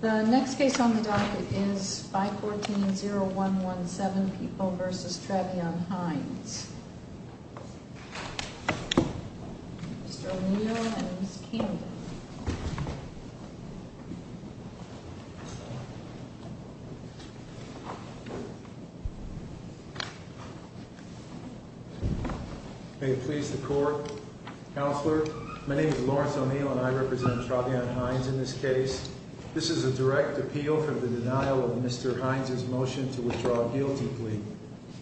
The next case on the docket is 514-0117, People v. Travion Hines. Mr. O'Neill and Ms. Camden. May it please the Court, Counselor, my name is Lawrence O'Neill and I represent Travion Hines in this case. This is a direct appeal for the denial of Mr. Hines' motion to withdraw a guilty plea.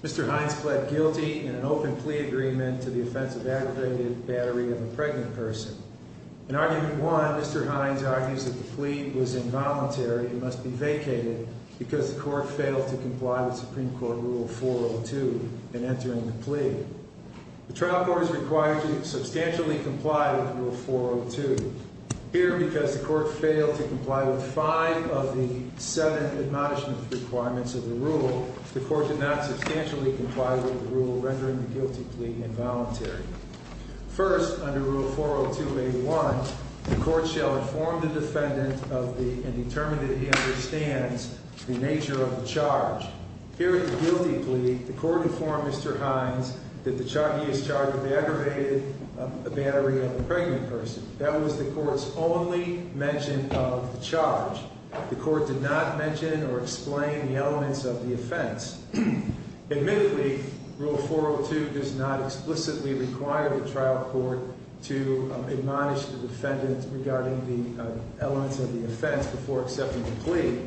Mr. Hines pled guilty in an open plea agreement to the offense of aggravated battery of a pregnant person. In argument one, Mr. Hines argues that the plea was involuntary and must be vacated because the Court failed to comply with Supreme Court Rule 402 in entering the plea. The trial court is required to substantially comply with Rule 402. Here, because the Court failed to comply with five of the seven admonishment requirements of the rule, the Court did not substantially comply with the rule, rendering the guilty plea involuntary. First, under Rule 402-81, the Court shall inform the defendant and determine that he understands the nature of the charge. Here in the guilty plea, the Court informed Mr. Hines that he is charged with aggravated battery of a pregnant person. That was the Court's only mention of the charge. The Court did not mention or explain the elements of the offense. Admittedly, Rule 402 does not explicitly require the trial court to admonish the defendant regarding the elements of the offense before accepting the plea.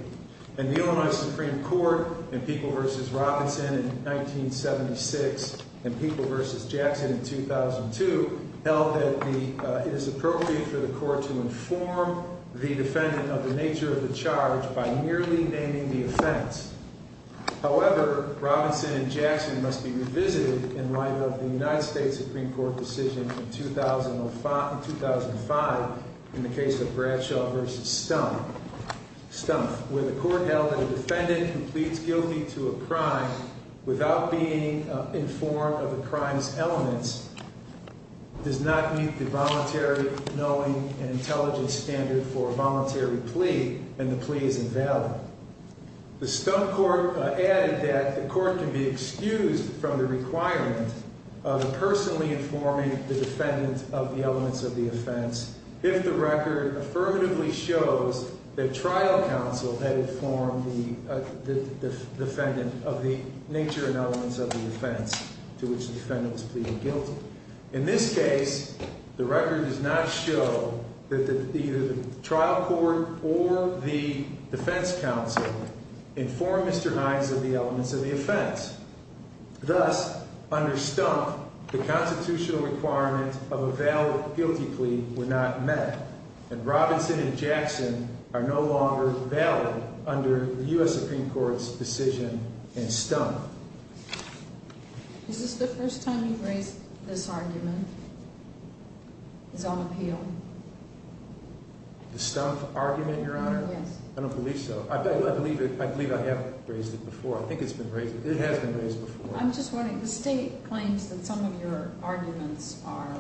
In the Illinois Supreme Court, in People v. Robinson in 1976 and People v. Jackson in 2002, held that it is appropriate for the Court to inform the defendant of the nature of the charge by merely naming the offense. However, Robinson and Jackson must be revisited in light of the United States Supreme Court decision in 2005 in the case of Bradshaw v. Stumpf, where the Court held that a defendant who pleads guilty to a crime without being informed of the crime's elements does not meet the voluntary knowing and intelligence standard for a voluntary plea, and the plea is invalid. The Stumpf Court added that the Court can be excused from the requirement of personally informing the defendant of the elements of the offense if the record affirmatively shows that trial counsel had informed the defendant of the nature and elements of the offense to which the defendant was pleading guilty. In this case, the record does not show that either the trial court or the defense counsel informed Mr. Hines of the elements of the offense. Thus, under Stumpf, the constitutional requirements of a valid guilty plea were not met, and Robinson and Jackson are no longer valid under the U.S. Supreme Court's decision in Stumpf. Is this the first time you've raised this argument, this own appeal? The Stumpf argument, Your Honor? Yes. I don't believe so. I believe I have raised it before. I think it's been raised. It has been raised before. I'm just wondering, the state claims that some of your arguments are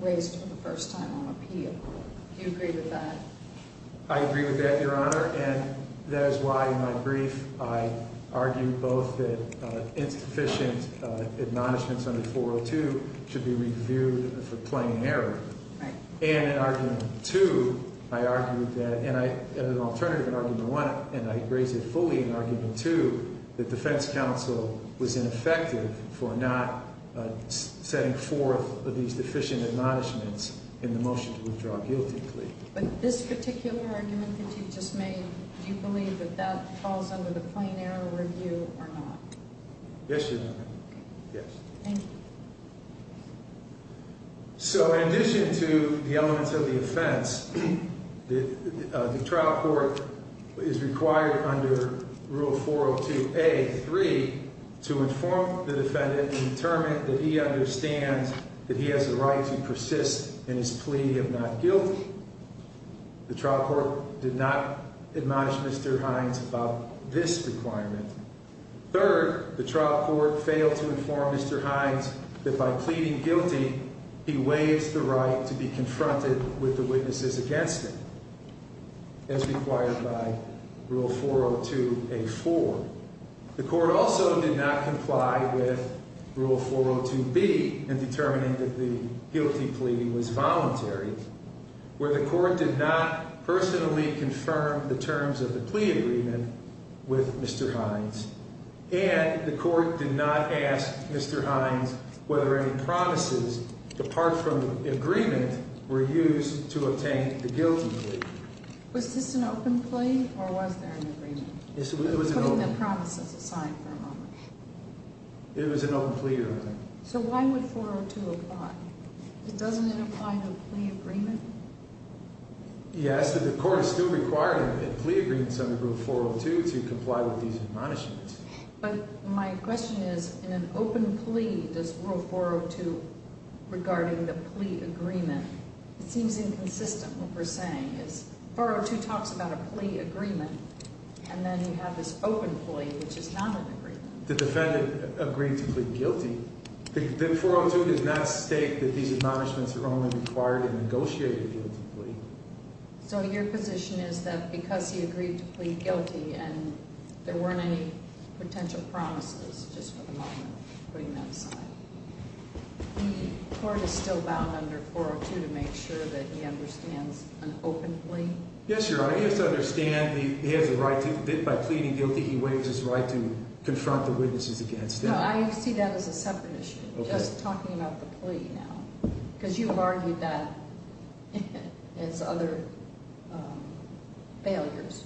raised for the first time on appeal. Do you agree with that? I agree with that, Your Honor, and that is why in my brief I argued both that insufficient admonishments under 402 should be reviewed for plain error. And in argument two, I argued that, and I had an alternative in argument one, and I raised it fully in argument two, that defense counsel was ineffective for not setting forth these deficient admonishments in the motion to withdraw a guilty plea. But this particular argument that you just made, do you believe that that falls under the plain error review or not? Yes, Your Honor, yes. Thank you. So in addition to the elements of the offense, the trial court is required under Rule 402A.3 to inform the defendant and determine that he understands that he has a right to persist in his plea of not guilty. The trial court did not admonish Mr. Hines about this requirement. Third, the trial court failed to inform Mr. Hines that by pleading guilty, he waives the right to be confronted with the witnesses against him, as required by Rule 402A.4. The court also did not comply with Rule 402B in determining that the guilty plea was voluntary, where the court did not personally confirm the terms of the plea agreement with Mr. Hines. And the court did not ask Mr. Hines whether any promises apart from the agreement were used to obtain the guilty plea. Was this an open plea or was there an agreement? It was an open plea. Putting the promises aside for a moment. It was an open plea, Your Honor. So why would 402 apply? Doesn't it apply to a plea agreement? Yes, but the court is still required in a plea agreement under Rule 402 to comply with these admonishments. But my question is, in an open plea, does Rule 402, regarding the plea agreement, it seems inconsistent what we're saying. 402 talks about a plea agreement, and then you have this open plea, which is not an agreement. The defendant agreed to plead guilty. The 402 does not state that these admonishments are only required in a negotiated guilty plea. So your position is that because he agreed to plead guilty and there weren't any potential promises, just for the moment, putting that aside, the court is still bound under 402 to make sure that he understands an open plea? Yes, Your Honor. He has to understand he has a right to, by pleading guilty, he waives his right to confront the witnesses against him. No, I see that as a separate issue. Just talking about the plea now, because you've argued that it's other failures.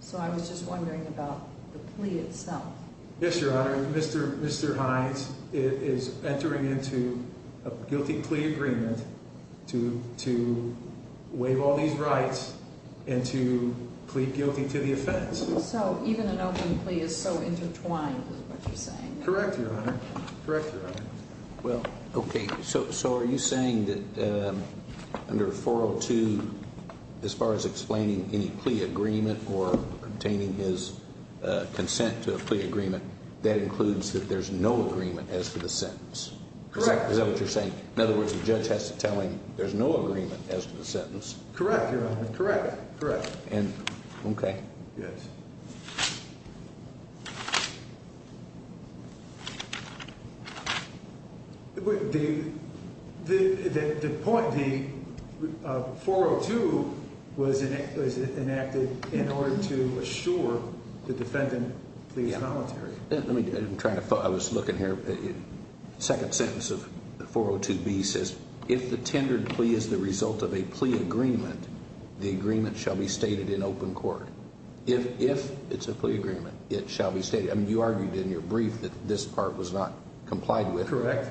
So I was just wondering about the plea itself. Yes, Your Honor. Mr. Hines is entering into a guilty plea agreement to waive all these rights and to plead guilty to the offense. So even an open plea is so intertwined with what you're saying. Correct, Your Honor. Okay, so are you saying that under 402, as far as explaining any plea agreement or obtaining his consent to a plea agreement, that includes that there's no agreement as to the sentence? Correct. Is that what you're saying? In other words, the judge has to tell him there's no agreement as to the sentence? Correct, Your Honor. Correct. Okay. Yes. The point of 402 was enacted in order to assure the defendant pleads voluntary. I was looking here. The second sentence of 402B says, If the tendered plea is the result of a plea agreement, the agreement shall be stated in open court. If it's a plea agreement, it shall be stated. I mean, you argued in your brief that this part was not complied with. Correct.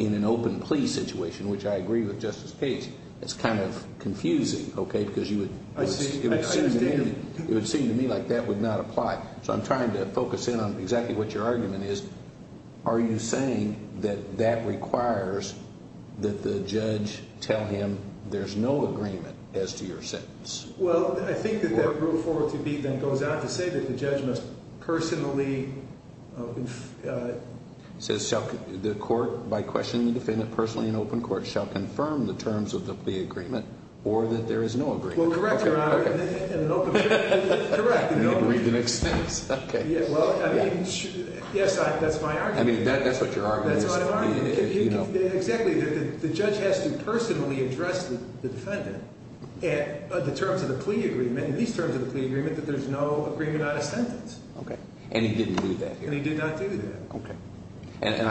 In an open plea situation, which I agree with Justice Cage, it's kind of confusing, okay, because you would I see. I understand. It would seem to me like that would not apply. So I'm trying to focus in on exactly what your argument is. Are you saying that that requires that the judge tell him there's no agreement as to your sentence? Well, I think that that rule 402B then goes on to say that the judge must personally It says the court, by questioning the defendant personally in open court, shall confirm the terms of the plea agreement or that there is no agreement. Well, correct, Your Honor. Okay. In an open plea. Correct. Read the next sentence. Okay. Well, I mean, yes, that's my argument. I mean, that's what your argument is. That's my argument. Exactly. The judge has to personally address the defendant in the terms of the plea agreement, in these terms of the plea agreement, that there's no agreement on a sentence. Okay. And he didn't do that here. And he did not do that. Okay. And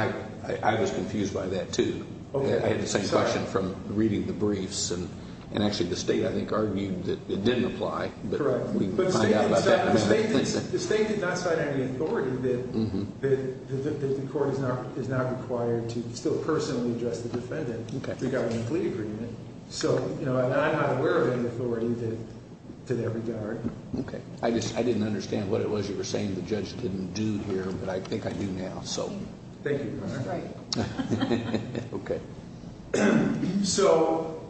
I was confused by that, too. I had the same question from reading the briefs, and actually the state, I think, argued that it didn't apply. Correct. The state did not sign any authority that the court is not required to still personally address the defendant regarding the plea agreement. So, you know, I'm not aware of any authority to that regard. Okay. I didn't understand what it was you were saying the judge didn't do here, but I think I do now, so. Thank you, Your Honor. Right. Okay. So,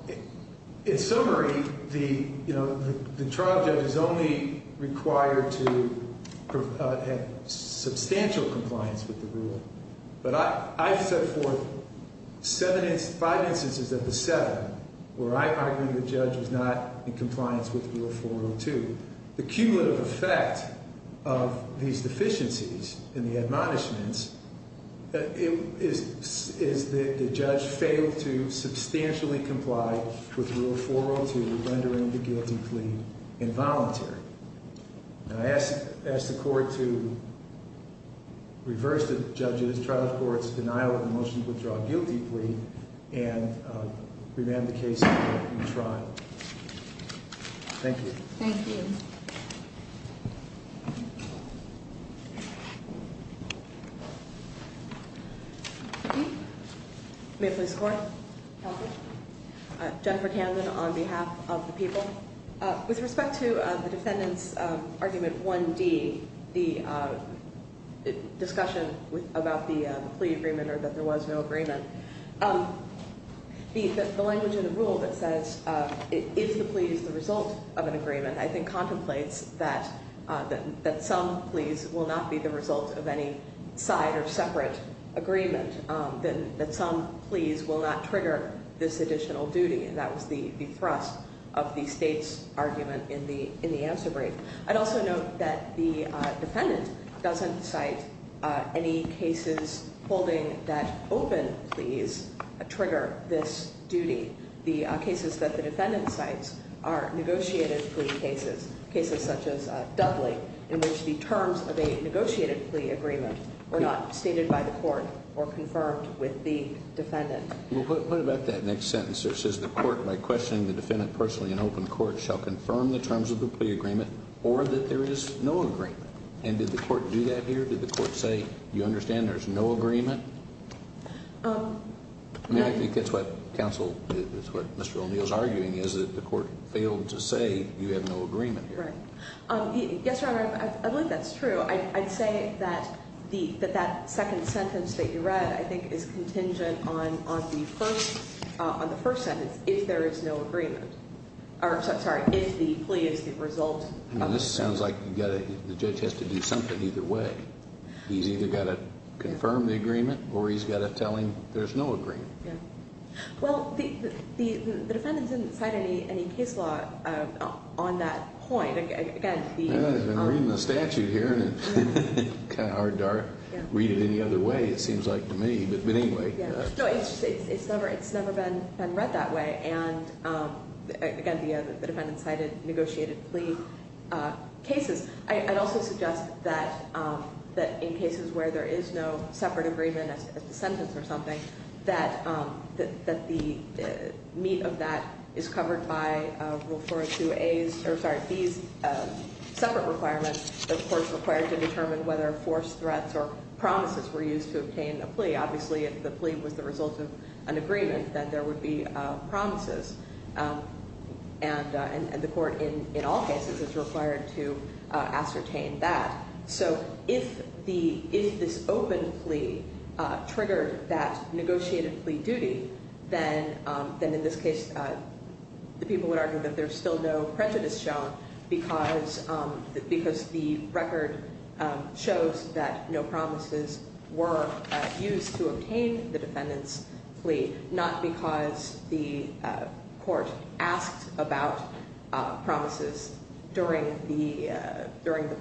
in summary, you know, the trial judge is only required to have substantial compliance with the rule. But I've set forth five instances of the seven where I argue the judge was not in compliance with Rule 402. The cumulative effect of these deficiencies in the admonishments is that the judge failed to substantially comply with Rule 402, rendering the guilty plea involuntary. And I ask the court to reverse the judge's trial court's denial of the motion to withdraw a guilty plea and revamp the case in the trial. Thank you. Thank you. May it please the court. Counsel. Jennifer Camden on behalf of the people. With respect to the defendant's argument 1D, the discussion about the plea agreement or that there was no agreement, the language in the rule that says, is the plea the result of an agreement, I think contemplates that some pleas will not be the result of any side or separate agreement, that some pleas will not trigger this additional duty. And that was the thrust of the state's argument in the answer brief. I'd also note that the defendant doesn't cite any cases holding that open pleas trigger this duty. The cases that the defendant cites are negotiated plea cases, cases such as Dudley in which the terms of a negotiated plea agreement were not stated by the court or confirmed with the defendant. What about that next sentence? It says the court, by questioning the defendant personally in open court, shall confirm the terms of the plea agreement or that there is no agreement. And did the court do that here? Did the court say, you understand there's no agreement? I think that's what counsel, that's what Mr. O'Neill's arguing is that the court failed to say you have no agreement here. Yes, Your Honor. I believe that's true. I'd say that that second sentence that you read, I think, is contingent on the first sentence, if there is no agreement. Sorry, if the plea is the result of the sentence. This sounds like the judge has to do something either way. He's either got to confirm the agreement or he's got to tell him there's no agreement. Well, the defendant didn't cite any case law on that point. I've been reading the statute here and it's kind of hard to read it any other way, it seems like to me. But anyway. No, it's never been read that way. And, again, the defendant cited negotiated plea cases. I'd also suggest that in cases where there is no separate agreement as the sentence or something, that the meat of that is covered by Rule 402A's, or sorry, B's separate requirements, the court's required to determine whether forced threats or promises were used to obtain a plea. Obviously, if the plea was the result of an agreement, then there would be promises. And the court, in all cases, is required to ascertain that. So if this open plea triggered that negotiated plea duty, then in this case the people would argue that there's still no prejudice shown because the record shows that no promises were used to obtain the defendant's plea, not because the court asked about promises during the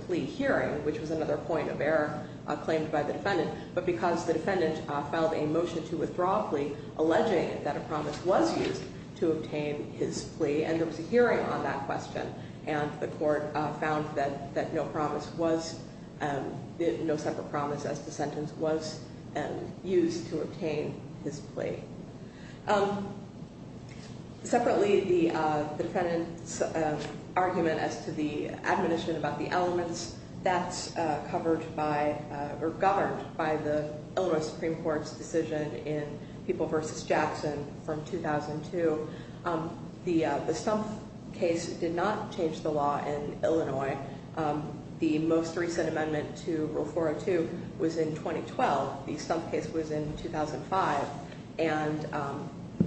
plea hearing, which was another point of error claimed by the defendant, but because the defendant filed a motion to withdraw a plea alleging that a promise was used to obtain his plea. And there was a hearing on that question. And the court found that no promise was, no separate promise as the sentence was used to obtain his plea. Separately, the defendant's argument as to the admonition about the elements, that's covered by or governed by the Illinois Supreme Court's decision in People v. Jackson from 2002. The Stumpf case did not change the law in Illinois. The most recent amendment to Rule 402 was in 2012. The Stumpf case was in 2005. And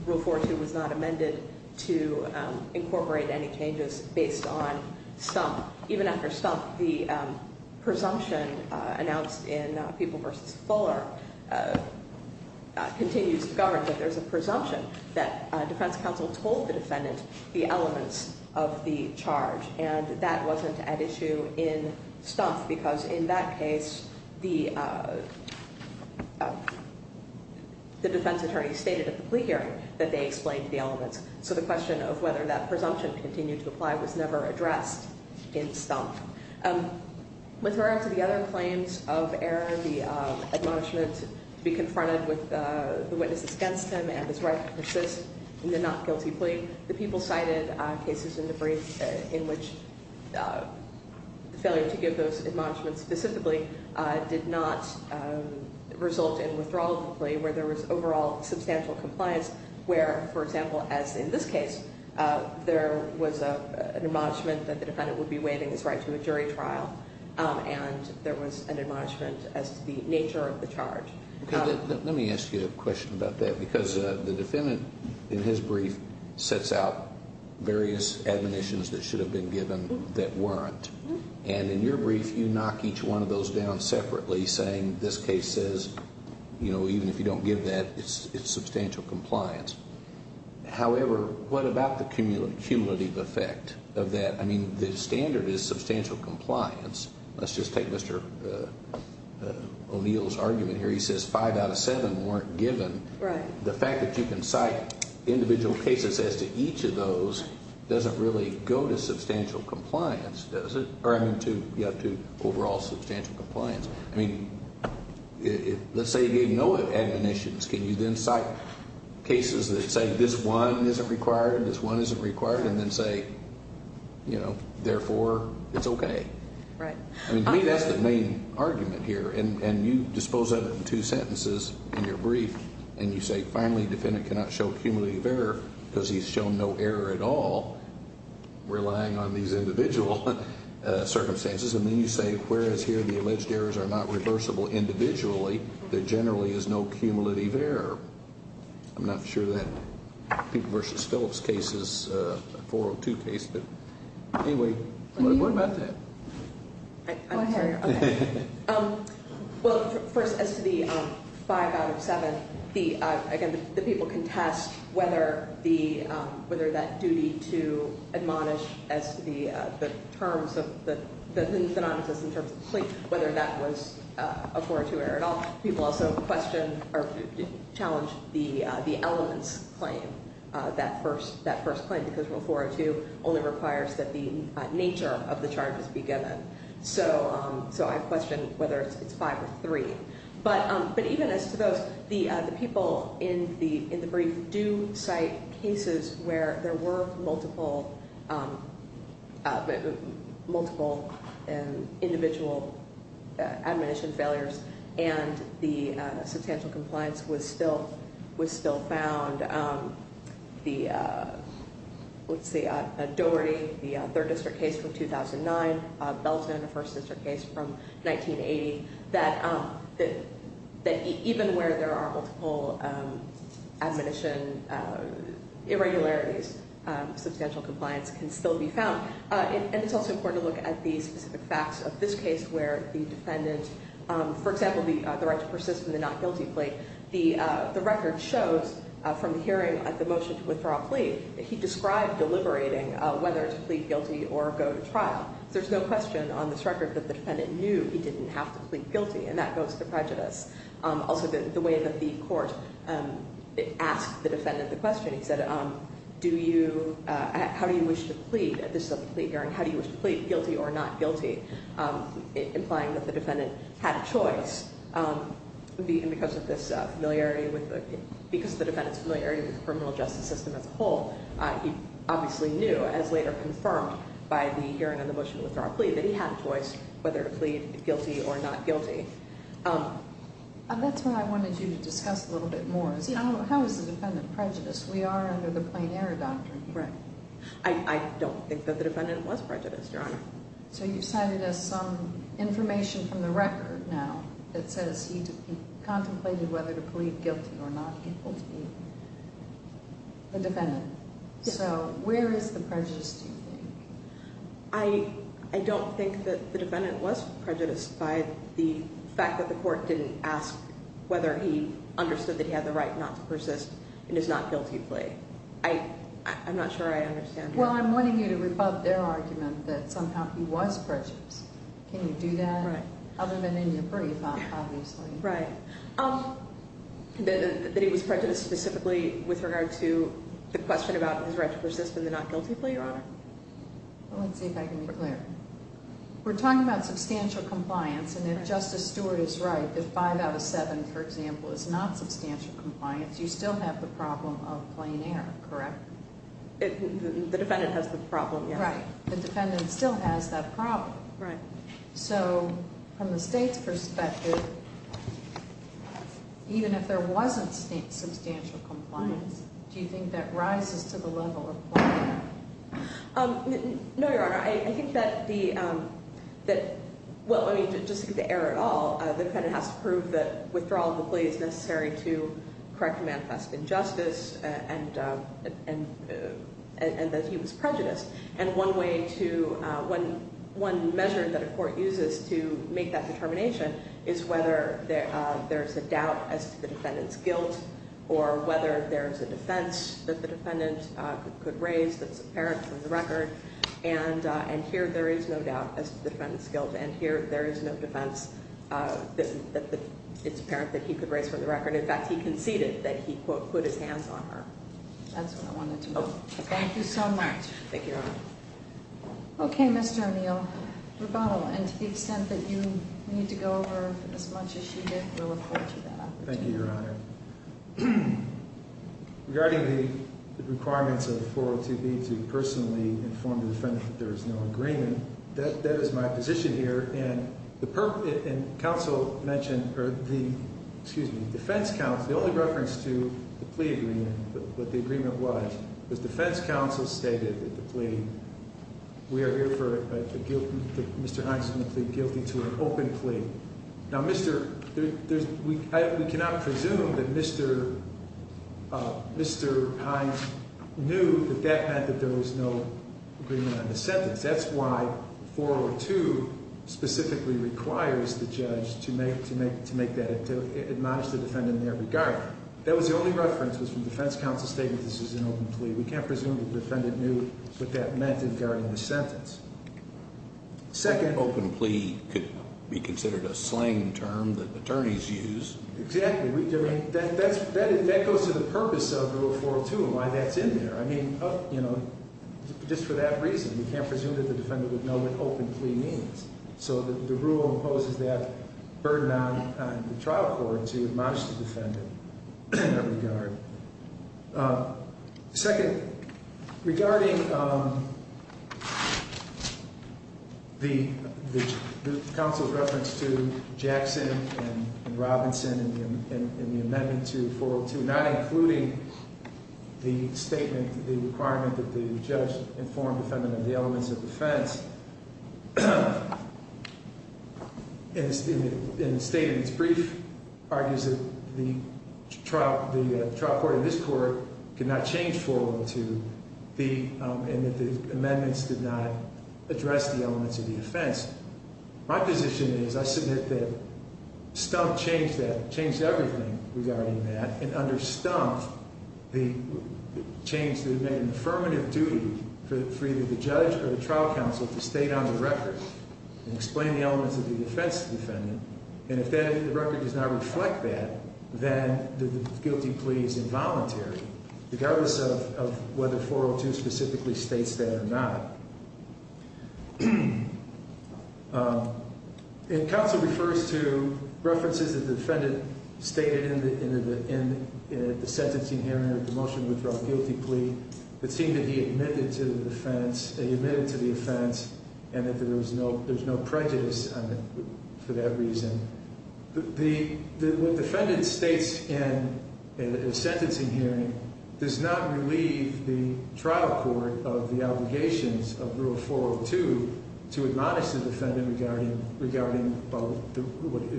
Rule 402 was not amended to incorporate any changes based on Stumpf. Even after Stumpf, the presumption announced in People v. Fuller continues to govern that there's a presumption that defense counsel told the defendant the elements of the charge. And that wasn't at issue in Stumpf because in that case, the defense attorney stated at the plea hearing that they explained the elements. So the question of whether that presumption continued to apply was never addressed in Stumpf. With regard to the other claims of error, the admonishment to be confronted with the witnesses against him and his right to persist in the not guilty plea, the People cited cases in the brief in which the failure to give those admonishments specifically did not result in withdrawal of the plea where there was overall substantial compliance where, for example, as in this case, there was an admonishment that the defendant would be waiving his right to a jury trial and there was an admonishment as to the nature of the charge. Let me ask you a question about that because the defendant, in his brief, sets out various admonitions that should have been given that weren't. And in your brief, you knock each one of those down separately saying, you know, even if you don't give that, it's substantial compliance. However, what about the cumulative effect of that? I mean, the standard is substantial compliance. Let's just take Mr. O'Neill's argument here. He says five out of seven weren't given. The fact that you can cite individual cases as to each of those doesn't really go to substantial compliance, does it? Or, I mean, to overall substantial compliance. I mean, let's say you gave no admonitions. Can you then cite cases that say this one isn't required, this one isn't required, and then say, you know, therefore, it's okay? Right. I mean, to me, that's the main argument here. And you dispose of it in two sentences in your brief, and you say, finally, defendant cannot show cumulative error because he's shown no error at all relying on these individual circumstances. And then you say, whereas here the alleged errors are not reversible individually, there generally is no cumulative error. I'm not sure that people versus Phillips case is a 402 case. But anyway, what about that? Go ahead. Well, first, as to the five out of seven, again, the people contest whether that duty to admonish as to the terms of the non-existent terms of the claim, whether that was a 402 error at all. People also question or challenge the elements claim, that first claim, because a 402 only requires that the nature of the charges be given. So I question whether it's five or three. But even as to those, the people in the brief do cite cases where there were multiple individual admonition failures and the substantial compliance was still found. Let's see, Doherty, the third district case from 2009, Belton, the first district case from 1980, that even where there are multiple admonition irregularities, substantial compliance can still be found. And it's also important to look at the specific facts of this case where the defendant, for example, had the right to persist in the not guilty plea. The record shows from the hearing at the motion to withdraw a plea, he described deliberating whether to plead guilty or go to trial. There's no question on this record that the defendant knew he didn't have to plead guilty, and that goes to prejudice. Also, the way that the court asked the defendant the question, he said, how do you wish to plead at this plea hearing? How do you wish to plead guilty or not guilty? Implying that the defendant had a choice. Because the defendant's familiarity with the criminal justice system as a whole, he obviously knew, as later confirmed by the hearing on the motion to withdraw a plea, that he had a choice whether to plead guilty or not guilty. That's what I wanted you to discuss a little bit more. How is the defendant prejudiced? We are under the plain error doctrine. Right. I don't think that the defendant was prejudiced, Your Honor. So you've cited as some information from the record now that says he contemplated whether to plead guilty or not guilty. The defendant. Yes. So where is the prejudice, do you think? I don't think that the defendant was prejudiced by the fact that the court didn't ask whether he understood that he had the right not to persist in his not guilty plea. I'm not sure I understand. Well, I'm wanting you to rebut their argument that somehow he was prejudiced. Can you do that? Right. Other than in your brief, obviously. Right. That he was prejudiced specifically with regard to the question about his right to persist in the not guilty plea, Your Honor? Let's see if I can be clear. We're talking about substantial compliance, and if Justice Stewart is right, if five out of seven, for example, is not substantial compliance, you still have the problem of plain error, correct? The defendant has the problem, yes. Right. The defendant still has that problem. Right. So from the state's perspective, even if there wasn't substantial compliance, do you think that rises to the level of plain error? No, Your Honor. I think that the – well, I mean, just the error at all. The defendant has to prove that withdrawal of the plea is necessary to correct a manifest injustice and that he was prejudiced. And one way to – one measure that a court uses to make that determination is whether there's a doubt as to the defendant's guilt or whether there's a defense that the defendant could raise that's apparent from the record. And here there is no doubt as to the defendant's guilt, and here there is no defense that it's apparent that he could raise from the record. In fact, he conceded that he, quote, put his hands on her. That's what I wanted to know. Thank you so much. Thank you, Your Honor. Okay, Mr. O'Neill. Rebuttal. And to the extent that you need to go over as much as you did, we'll refer to that. Thank you, Your Honor. Regarding the requirements of 402B to personally inform the defendant that there is no agreement, that is my position here. And counsel mentioned – excuse me, the defense counsel – the only reference to the plea agreement, what the agreement was, was defense counsel stated that the plea – we are here for Mr. Hines to plead guilty to an open plea. Now, Mr. – we cannot presume that Mr. Hines knew that that meant that there was no agreement on the sentence. That's why 402 specifically requires the judge to make that – to admonish the defendant in every regard. That was the only reference was from defense counsel stating that this was an open plea. We can't presume that the defendant knew what that meant in guarding the sentence. Second – An open plea could be considered a slang term that attorneys use. Exactly. I mean, that goes to the purpose of 402 and why that's in there. I mean, you know, just for that reason, we can't presume that the defendant would know what open plea means. So the rule imposes that burden on the trial court to admonish the defendant in that regard. Second, regarding the counsel's reference to Jackson and Robinson in the amendment to 402, not including the statement, the requirement that the judge inform the defendant of the elements of defense. In the statement, it's brief, argues that the trial court in this court could not change 402 and that the amendments did not address the elements of the offense. My position is I submit that Stumpf changed that, changed everything regarding that, and under Stumpf, the change that it made an affirmative duty for either the judge or the trial counsel to state on the record and explain the elements of the defense to the defendant. And if the record does not reflect that, then the guilty plea is involuntary, regardless of whether 402 specifically states that or not. And counsel refers to references that the defendant stated in the sentencing hearing of the motion withdrawal guilty plea that seemed to be admitted to the offense and that there was no prejudice for that reason. What the defendant states in the sentencing hearing does not relieve the trial court of the obligations of Rule 402 to admonish the defendant regarding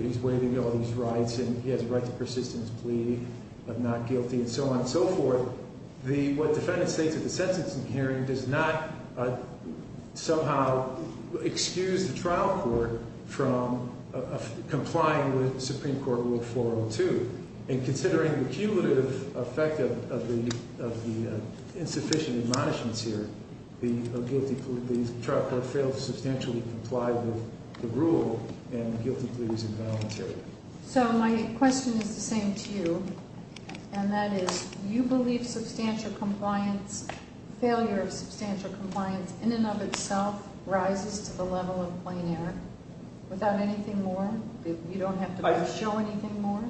his way to go, his rights, and he has a right to persistence plea of not guilty, and so on and so forth. What the defendant states in the sentencing hearing does not somehow excuse the trial court from complying with Supreme Court Rule 402. And considering the cumulative effect of the insufficient admonishments here, the trial court failed to substantially comply with the rule, and the guilty plea is involuntary. So my question is the same to you, and that is, you believe substantial compliance, failure of substantial compliance in and of itself rises to the level of plain error? Without anything more? You don't have to show anything more?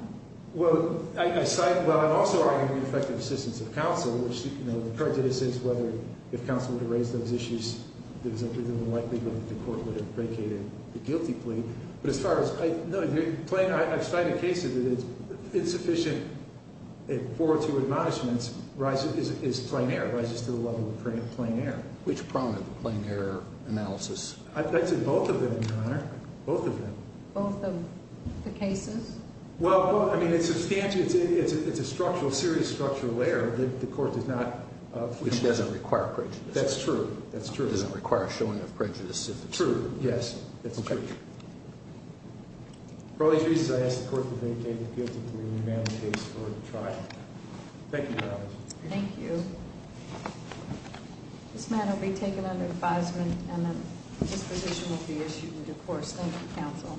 Well, I cite, well, I'm also arguing effective assistance of counsel, which, you know, the prejudice is whether, if counsel were to raise those issues, there's a likelihood that the court would have vacated the guilty plea. But as far as, no, plain, I've cited cases that it's insufficient in 402 admonishments rises, is plain error, rises to the level of plain error. Which prominent plain error analysis? I've cited both of them, Your Honor, both of them. Both of the cases? Well, I mean, it's substantial. It's a structural, serious structural error. The court does not. Which doesn't require prejudice. That's true. That's true. Doesn't require showing of prejudice. True, yes. That's true. Okay. For all these reasons, I ask the court to vacate the guilty plea and amend the case for the trial. Thank you, Your Honor. Thank you. This matter will be taken under advisement, and then disposition will be issued in due course. Thank you, counsel.